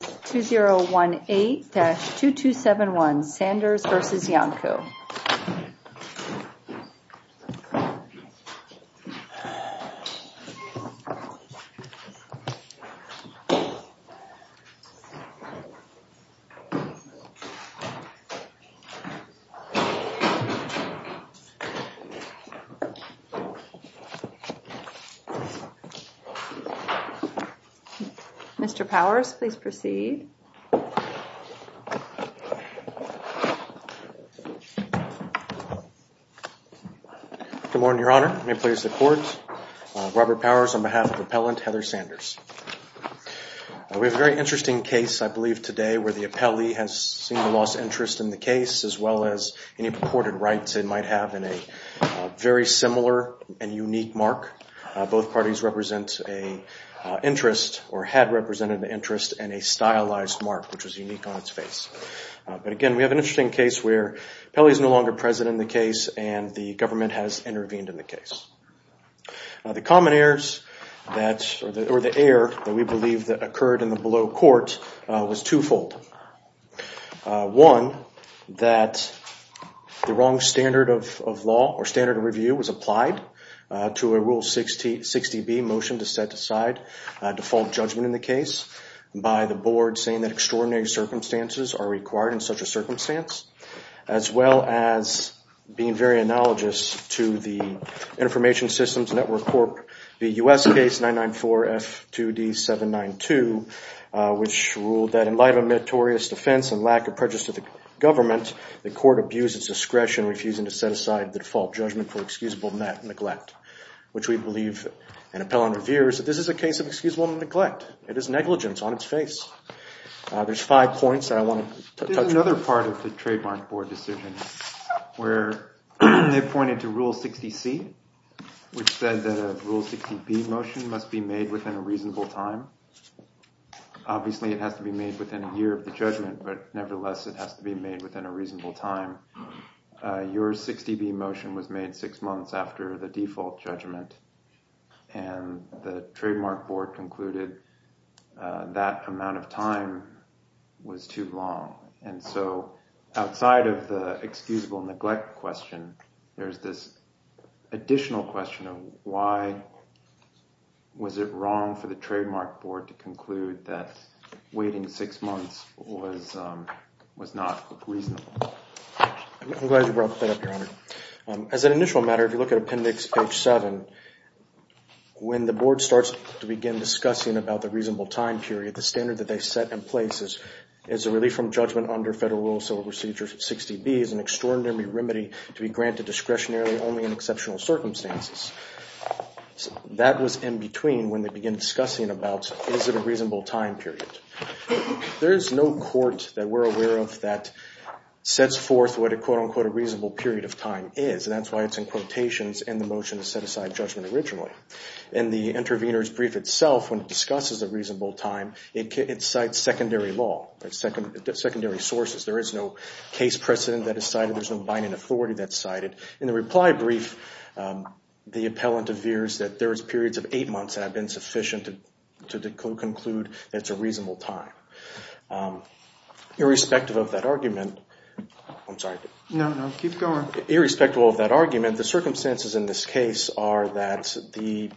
2018-2271, Sanders versus Yonko. Mr. Powers, please proceed. Good morning, Your Honor. May it please the Court. Robert Powers on behalf of Appellant Heather Sanders. We have a very interesting case, I believe, today where the appellee has seen a lost interest in the case, as well as any purported rights it might have in a very similar and unique mark. Both parties represent an interest or had represented an interest and a stylized mark, which is unique on its face. But again, we have an interesting case where the appellee is no longer present in the case and the government has intervened in the case. The air that we believe occurred in the below court was twofold. One, that the wrong standard of law or standard of review was applied to a Rule 60B motion to set aside default judgment in the case by the board saying that extraordinary circumstances are required in such a circumstance, as well as being very analogous to the Information Systems Network Corp. v. U.S. case 994-F2D-792, which ruled that in light of a meritorious defense and lack of prejudice to the government, the court abused its discretion, refusing to set aside the default judgment for excusable neglect, which we believe in appellant reviews that this is a case of excusable neglect. It is negligence on its face. There's five points I want to touch on. There's another part of the Trademark Board decision where they pointed to Rule 60C, which said that a Rule 60B motion must be made within a reasonable time. Obviously, it has to be made within a year of the judgment, but nevertheless, it has to be made within a reasonable time. Your 60B motion was made six months after the default judgment, and the Trademark Board concluded that amount of time was too long. Outside of the excusable neglect question, there's this additional question of why was it wrong for the Trademark Board to conclude that waiting six months was not reasonable? I'm glad you brought that up, Your Honor. As an initial matter, if you look at Appendix 7, when the Board starts to begin discussing about the reasonable time period, the standard that they set in place is a relief from judgment under Federal Rule 60B is an extraordinary remedy to be granted discretionarily only in exceptional circumstances. That was in between when they began discussing about is it a reasonable time period. There is no court that we're aware of that sets forth what a quote-unquote reasonable period of time is. That's why it's in quotations in the motion to set aside judgment originally. In the intervener's brief itself, when it discusses a reasonable time, it cites secondary law, secondary sources. There is no case precedent that is cited. There's no binding authority that's cited. In the reply brief, the appellant appears that there's periods of eight months that have been sufficient to conclude it's a reasonable time. Irrespective of that argument, the circumstances in this case are that the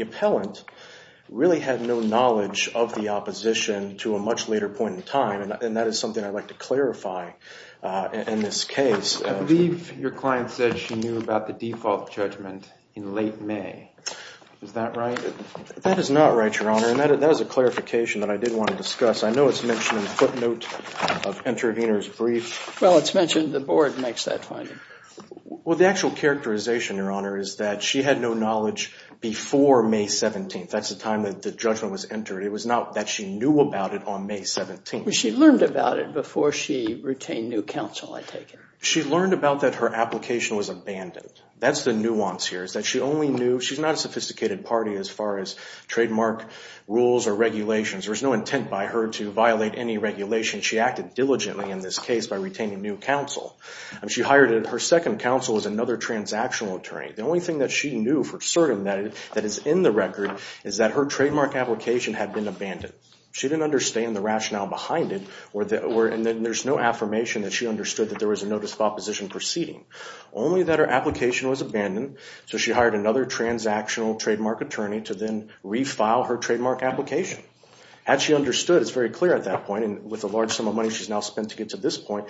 appellant really had no knowledge of the opposition to a much later point in time, and that is something I'd like to clarify in this case. I believe your client said she knew about the default judgment in late May. Is that right? That is not right, Your Honor, and that is a clarification that I did want to discuss. I know it's mentioned in the footnote of the intervener's brief. Well, it's mentioned the board makes that finding. Well, the actual characterization, Your Honor, is that she had no knowledge before May 17th. That's the time that the judgment was entered. It was not that she knew about it on May 17th. She learned about it before she retained new counsel, I take it. She learned about that her application was abandoned. That's the nuance here is that she only knew. She's not a sophisticated party as far as trademark rules or regulations. There's no intent by her to violate any regulations. She acted diligently in this case by retaining new counsel. She hired her second counsel as another transactional attorney. The only thing that she knew for certain that is in the record is that her trademark application had been abandoned. She didn't understand the rationale behind it, and there's no affirmation that she understood that there was a notice of opposition proceeding. Only that her application was abandoned, so she hired another transactional trademark attorney to then refile her trademark application. Had she understood, it's very clear at that point, and with the large sum of money she's now spent to get to this point,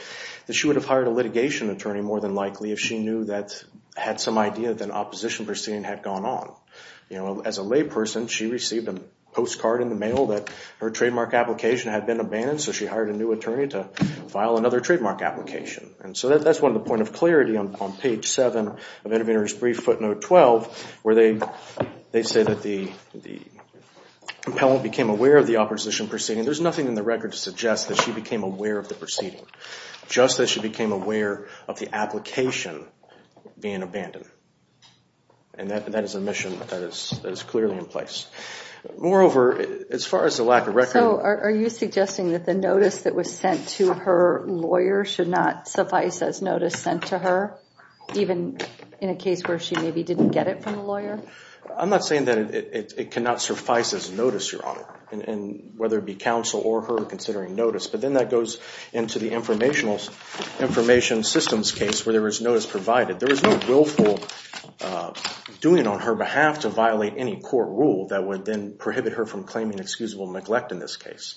that she would have hired a litigation attorney more than likely if she knew that, had some idea that an opposition proceeding had gone on. As a layperson, she received a postcard in the mail that her trademark application had been abandoned, so she hired a new attorney to file another trademark application. That's one of the points of clarity on page 7 of Intervenor's Brief, footnote 12, where they say that the compellant became aware of the opposition proceeding. There's nothing in the record to suggest that she became aware of the proceeding, just that she became aware of the application being abandoned. That is a mission that is clearly in place. Moreover, as far as the lack of record... Are you suggesting that the notice that was sent to her lawyer should not suffice as notice sent to her, even in a case where she maybe didn't get it from the lawyer? I'm not saying that it cannot suffice as notice, Your Honor, whether it be counsel or her considering notice, but then that goes into the information systems case where there was notice provided. There was no willful doing on her behalf to violate any court rule that would then prohibit her from claiming excusable neglect in this case.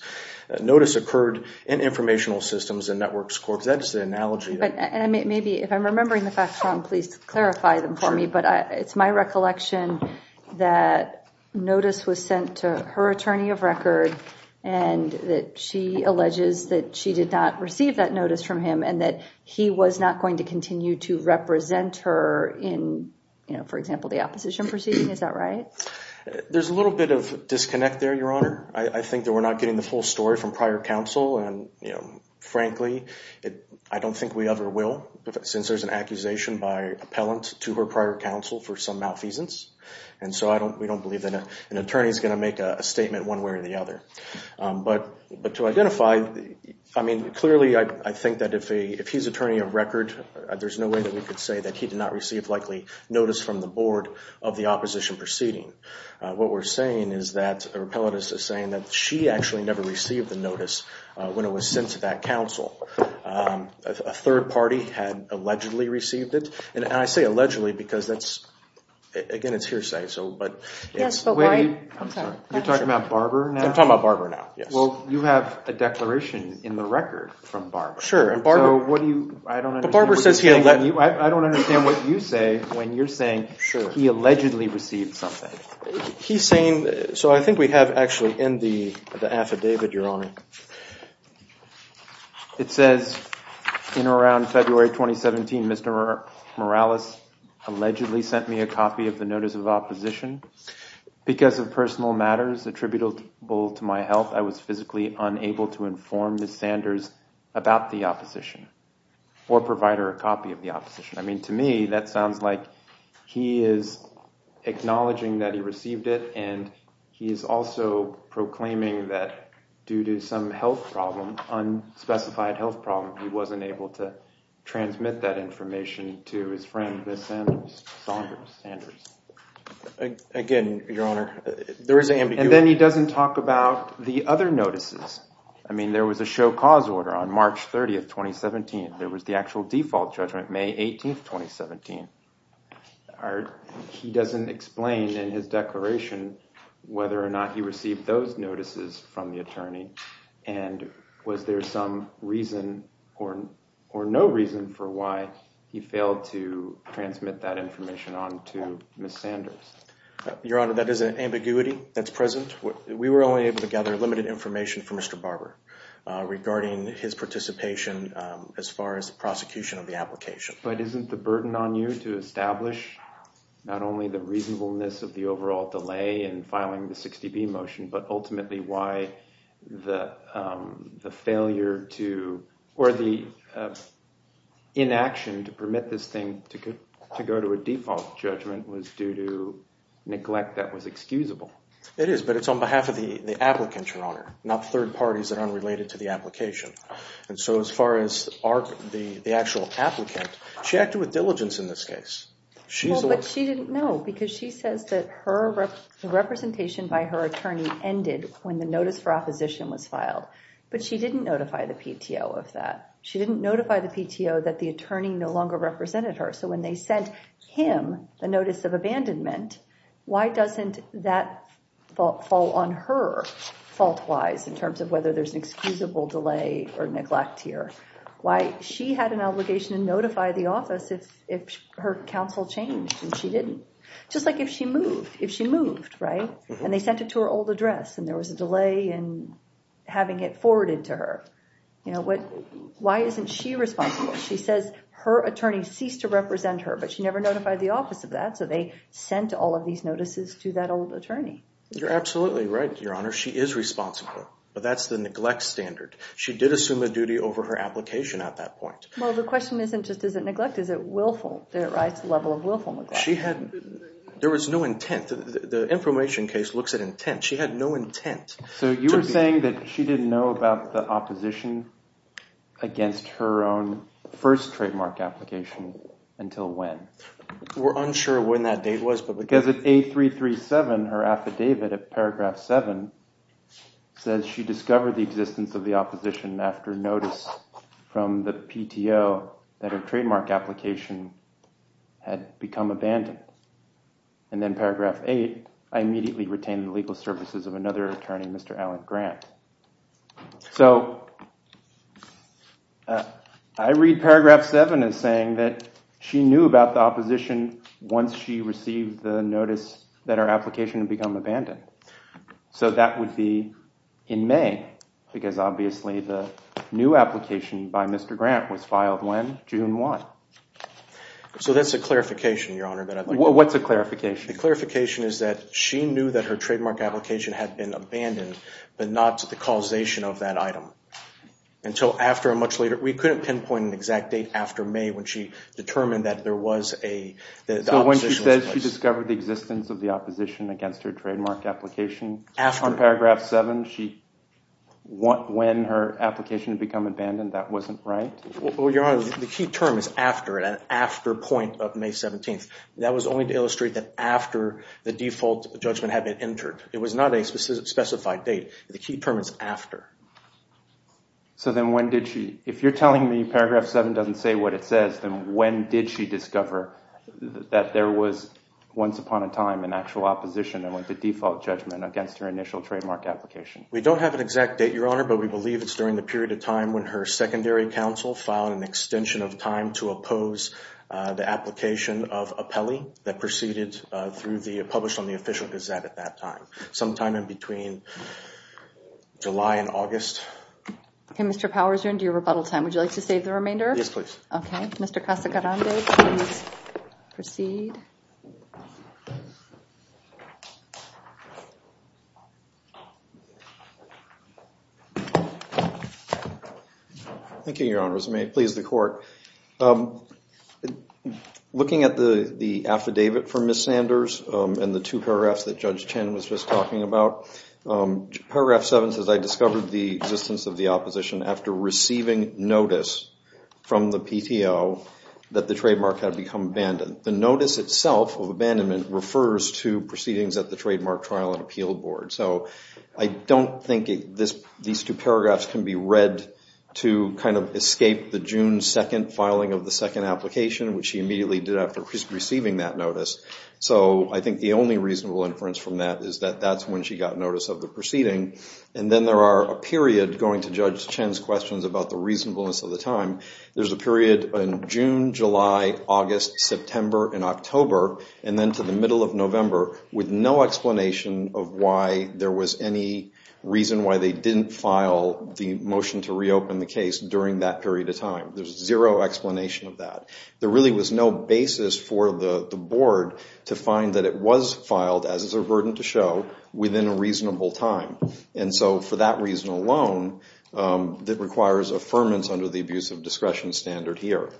Notice occurred in informational systems and networks courts. That's the analogy. Maybe, if I'm remembering the facts wrong, please clarify them for me, but it's my recollection that notice was sent to her attorney of record and that she alleges that she did not receive that notice from him and that he was not going to continue to represent her in, for example, the opposition proceeding. Is that right? There's a little bit of disconnect there, Your Honor. I think that we're not getting the full story from prior counsel. Frankly, I don't think we ever will, since there's an accusation by appellant to her prior counsel for some malfeasance, and so we don't believe that an attorney is going to make a statement one way or the other. But to identify, I mean, clearly, I think that if he's attorney of record, there's no way that we could say that he did not receive, likely, notice from the board of the opposition proceeding. What we're saying is that the appellant is saying that she actually never received the notice when it was sent to that counsel. A third party had allegedly received it, and I say allegedly because that's, again, it's hearsay. You're talking about Barber now? I'm talking about Barber now, yes. Well, you have a declaration in the record from Barber. Sure. I don't understand what you're saying when you're saying he allegedly received something. He's saying, so I think we have actually in the affidavit, Your Honor, it says in around February 2017, Mr. Morales allegedly sent me a copy of the notice of opposition. Because of personal matters attributable to my health, I was physically unable to inform Ms. Sanders about the opposition or provide her a copy of the opposition. I mean, to me, that sounds like he is acknowledging that he received it, and he is also proclaiming that due to some health problem, unspecified health problem, he wasn't able to transmit that information to his friend Ms. Sanders. Again, Your Honor, there is ambiguity. And then he doesn't talk about the other notices. I mean, there was a show cause order on March 30, 2017. There was the actual default judgment May 18, 2017. He doesn't explain in his declaration whether or not he received those notices from the attorney. And was there some reason or no reason for why he failed to transmit that information on to Ms. Sanders? Your Honor, that is an ambiguity that's present. We were only able to gather limited information from Mr. Barber regarding his participation as far as the prosecution of the application. But isn't the burden on you to establish not only the reasonableness of the overall delay in filing the 60B motion, but ultimately why the failure to, or the inaction to permit this thing to go to a default judgment was due to neglect that was excusable? It is, but it's on behalf of the applicant, Your Honor, not third parties that are unrelated to the application. And so as far as the actual applicant, she acted with diligence in this case. Well, but she didn't know because she says that the representation by her attorney ended when the notice for opposition was filed. But she didn't notify the PTO of that. She didn't notify the PTO that the attorney no longer represented her. So when they sent him a notice of abandonment, why doesn't that fall on her fault-wise in terms of whether there's an excusable delay or neglect here? Why she had an obligation to notify the office if her counsel changed and she didn't. Just like if she moved, if she moved, right? And they sent it to her old address and there was a delay in having it forwarded to her. Why isn't she responsible? She says her attorney ceased to represent her, but she never notified the office of that. So they sent all of these notices to that old attorney. You're absolutely right, Your Honor. She is responsible, but that's the neglect standard. She did assume a duty over her application at that point. Well, the question isn't just is it neglect, is it willful. There is a level of willful neglect. There was no intent. The information case looks at intent. She had no intent. So you were saying that she didn't know about the opposition against her own first trademark application until when? We're unsure when that date was. Because at 8337, her affidavit at paragraph 7 says she discovered the existence of the opposition after notice from the PTO that her trademark application had become abandoned. And then paragraph 8, I immediately retained the legal services of another attorney, Mr. Alan Grant. So I read paragraph 7 as saying that she knew about the opposition once she received the notice that her application had become abandoned. So that would be in May because obviously the new application by Mr. Grant was filed when? June 1. So that's a clarification, Your Honor. What's a clarification? The clarification is that she knew that her trademark application had been abandoned, but not the causation of that item. Until after and much later. We couldn't pinpoint an exact date after May when she determined that there was an opposition. So when she says she discovered the existence of the opposition against her trademark application? After. On paragraph 7, when her application had become abandoned, that wasn't right? Well, Your Honor, the key term is after. At an after point of May 17th. That was only to illustrate that after the default judgment had been entered. It was not a specified date. The key term is after. So then when did she, if you're telling me paragraph 7 doesn't say what it says, then when did she discover that there was once upon a time an actual opposition and went to default judgment against her initial trademark application? We don't have an exact date, Your Honor, but we believe it's during the period of time when her secondary counsel filed an extension of time to oppose the application of a PELI that proceeded through the, published on the Official Gazette at that time. Sometime in between July and August. Okay, Mr. Powers, you're into your rebuttal time. Would you like to save the remainder? Yes, please. Okay. Mr. Casagrande, please proceed. Thank you, Your Honors. May it please the Court. Looking at the affidavit from Ms. Sanders and the two paragraphs that Judge Chen was just talking about, paragraph 7 says, I discovered the existence of the opposition after receiving notice from the PTO that the trademark had become abandoned. The notice itself of abandonment refers to proceedings at the Trademark Trial and Appeal Board. So I don't think these two paragraphs can be read to kind of escape the June 2nd filing of the second application, which she immediately did after receiving that notice. So I think the only reasonable inference from that is that that's when she got notice of the proceeding. And then there are a period, going to Judge Chen's questions about the reasonableness of the time, there's a period in June, July, August, September, and October, and then to the middle of November, with no explanation of why there was any reason why they didn't file the motion to reopen the case during that period of time. There's zero explanation of that. There really was no basis for the Board to find that it was filed, as is a burden to show, within a reasonable time. And so for that reason alone, that requires affirmance under the abuse of discretion standard here.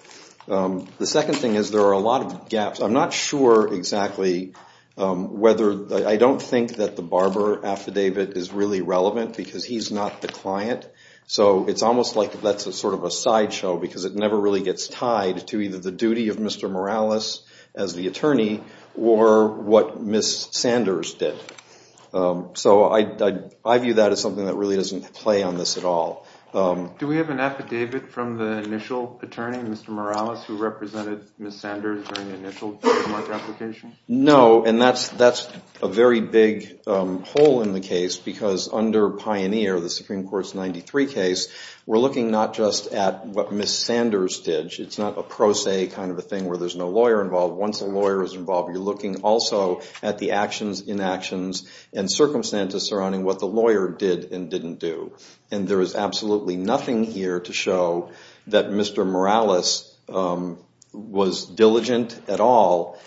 The second thing is there are a lot of gaps. I'm not sure exactly whether – I don't think that the Barber affidavit is really relevant because he's not the client. So it's almost like that's sort of a sideshow because it never really gets tied to either the duty of Mr. Morales as the attorney or what Ms. Sanders did. So I view that as something that really doesn't play on this at all. Do we have an affidavit from the initial attorney, Mr. Morales, who represented Ms. Sanders during the initial trademark application? No, and that's a very big hole in the case because under Pioneer, the Supreme Court's 93 case, we're looking not just at what Ms. Sanders did. It's not a pro se kind of a thing where there's no lawyer involved. Once a lawyer is involved, you're looking also at the actions, inactions, and circumstances surrounding what the lawyer did and didn't do. And there is absolutely nothing here to show that Mr. Morales was diligent at all.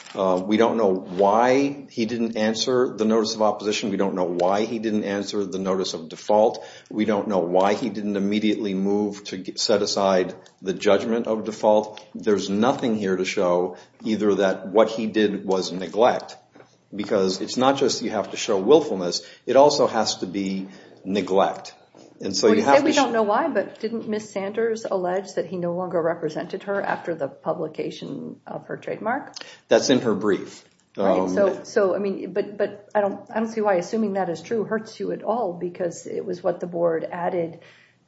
We don't know why he didn't answer the notice of opposition. We don't know why he didn't answer the notice of default. We don't know why he didn't immediately move to set aside the judgment of default. There's nothing here to show either that what he did was neglect because it's not just you have to show willfulness. It also has to be neglect. You say we don't know why, but didn't Ms. Sanders allege that he no longer represented her after the publication of her trademark? That's in her brief. But I don't see why assuming that is true hurts you at all because it was what the board added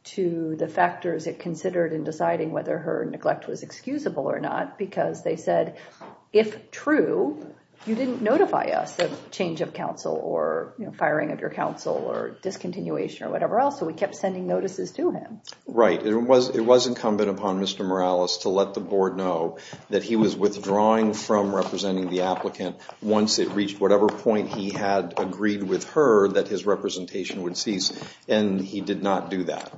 to the factors it considered in deciding whether her neglect was excusable or not because they said if true, you didn't notify us of change of counsel or firing of your counsel or discontinuation or whatever else, so we kept sending notices to him. Right. It was incumbent upon Mr. Morales to let the board know that he was withdrawing from representing the applicant once it reached whatever point he had agreed with her that his representation would cease, and he did not do that.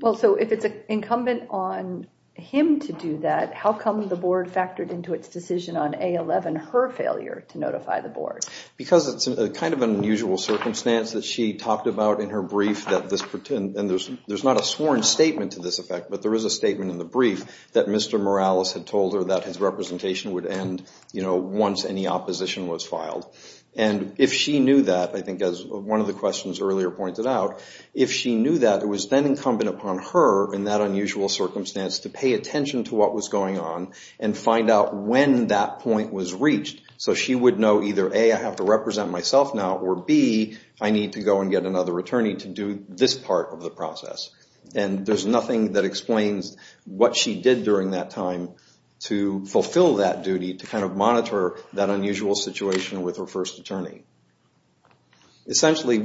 Well, so if it's incumbent on him to do that, how come the board factored into its decision on A11 her failure to notify the board? Because it's kind of an unusual circumstance that she talked about in her brief that this pertained, and there's not a sworn statement to this effect, but there is a statement in the brief that Mr. Morales had told her that his representation would end once any opposition was filed. And if she knew that, I think as one of the questions earlier pointed out, if she knew that, it was then incumbent upon her in that unusual circumstance to pay attention to what was going on and find out when that point was reached so she would know either A, I have to represent myself now, or B, I need to go and get another attorney to do this part of the process. And there's nothing that explains what she did during that time to fulfill that duty, to kind of monitor that unusual situation with her first attorney. Essentially,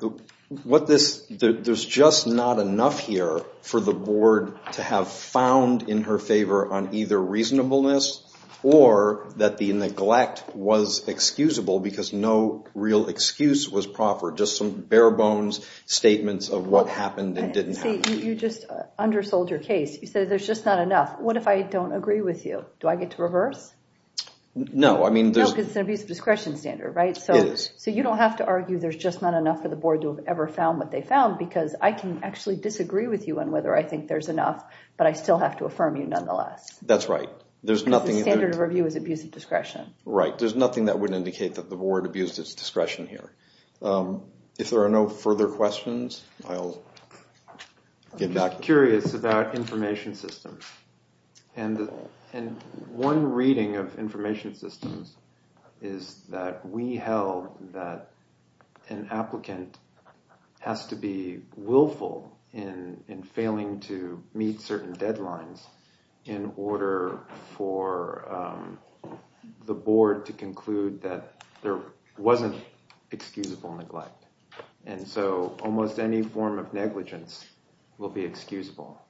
there's just not enough here for the board to have found in her favor on either reasonableness or that the neglect was excusable because no real excuse was proffered, just some bare-bones statements of what happened and didn't happen. See, you just undersold your case. You said there's just not enough. What if I don't agree with you? Do I get to reverse? No, I mean there's... No, because it's an abuse of discretion standard, right? It is. So you don't have to argue there's just not enough for the board to have ever found what they found because I can actually disagree with you on whether I think there's enough, but I still have to affirm you nonetheless. That's right. There's nothing... Because the standard of review is abuse of discretion. Right. There's nothing that would indicate that the board abused its discretion here. If there are no further questions, I'll get back... I'm curious about information systems. And one reading of information systems is that we held that an applicant has to be willful in failing to meet certain deadlines in order for the board to conclude that there wasn't excusable neglect. And so almost any form of negligence will be excusable.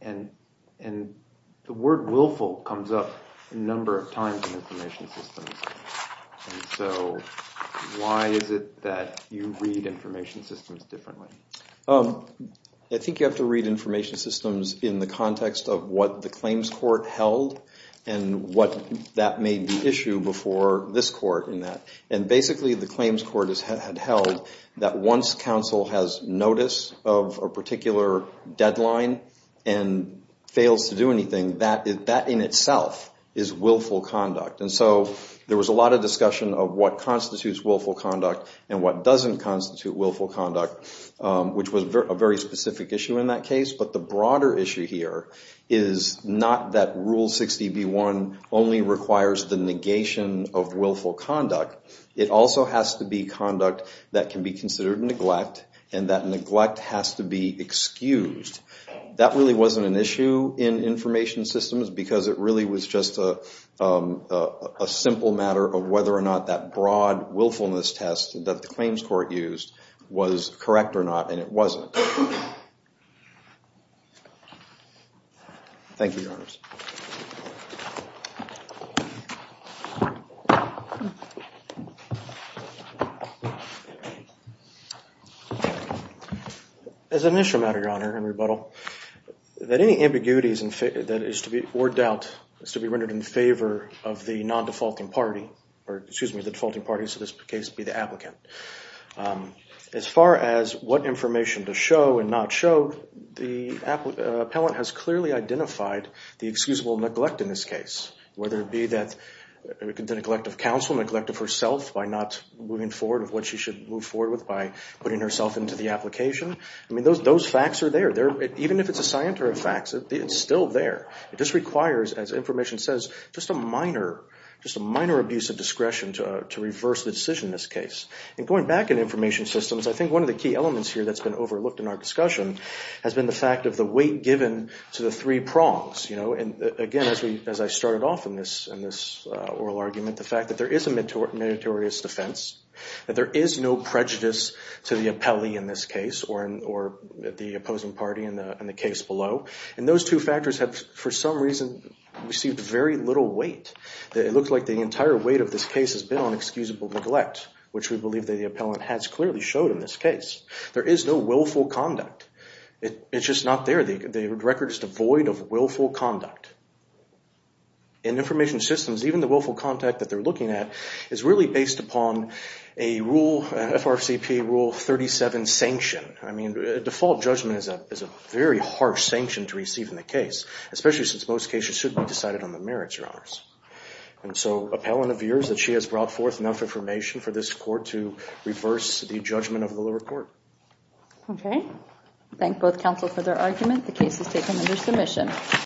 And the word willful comes up a number of times in information systems. And so why is it that you read information systems differently? I think you have to read information systems in the context of what the claims court held and what that made the issue before this court in that. And basically the claims court had held that once counsel has notice of a particular deadline and fails to do anything, that in itself is willful conduct. And so there was a lot of discussion of what constitutes willful conduct and what doesn't constitute willful conduct, which was a very specific issue in that case. But the broader issue here is not that Rule 60B1 only requires the negation of willful conduct. It also has to be conduct that can be considered neglect and that neglect has to be excused. That really wasn't an issue in information systems because it really was just a simple matter of whether or not that broad willfulness test that the claims court used was correct or not, and it wasn't. As an issue matter, Your Honor, in rebuttal, that any ambiguity that is to be, or doubt, is to be rendered in favor of the non-defaulting party, or excuse me, the defaulting party, so in this case it would be the applicant. As far as what information to show and not show, the appellant has clearly identified the excusable neglect in this case, whether it be the neglect of counsel, neglect of herself by not moving forward with what she should move forward with by putting herself into the application. Those facts are there. Even if it's a scienter of facts, it's still there. It just requires, as information says, just a minor abuse of discretion to reverse the decision in this case. And going back in information systems, I think one of the key elements here that's been overlooked in our discussion has been the fact of the weight given to the three prongs. Again, as I started off in this oral argument, the fact that there is a meritorious defense, that there is no prejudice to the appellee in this case or the opposing party in the case below, and those two factors have, for some reason, received very little weight. It looks like the entire weight of this case has been on excusable neglect, which we believe that the appellant has clearly showed in this case. There is no willful conduct. It's just not there. The record is devoid of willful conduct. In information systems, even the willful conduct that they're looking at is really based upon a rule, an FRCPA Rule 37 sanction. I mean, a default judgment is a very harsh sanction to receive in the case, especially since most cases should be decided on the merits or honors. And so appellant of yours, that she has brought forth enough information for this court to reverse the judgment of the lower court. Okay. Thank both counsel for their argument. The case is taken under submission.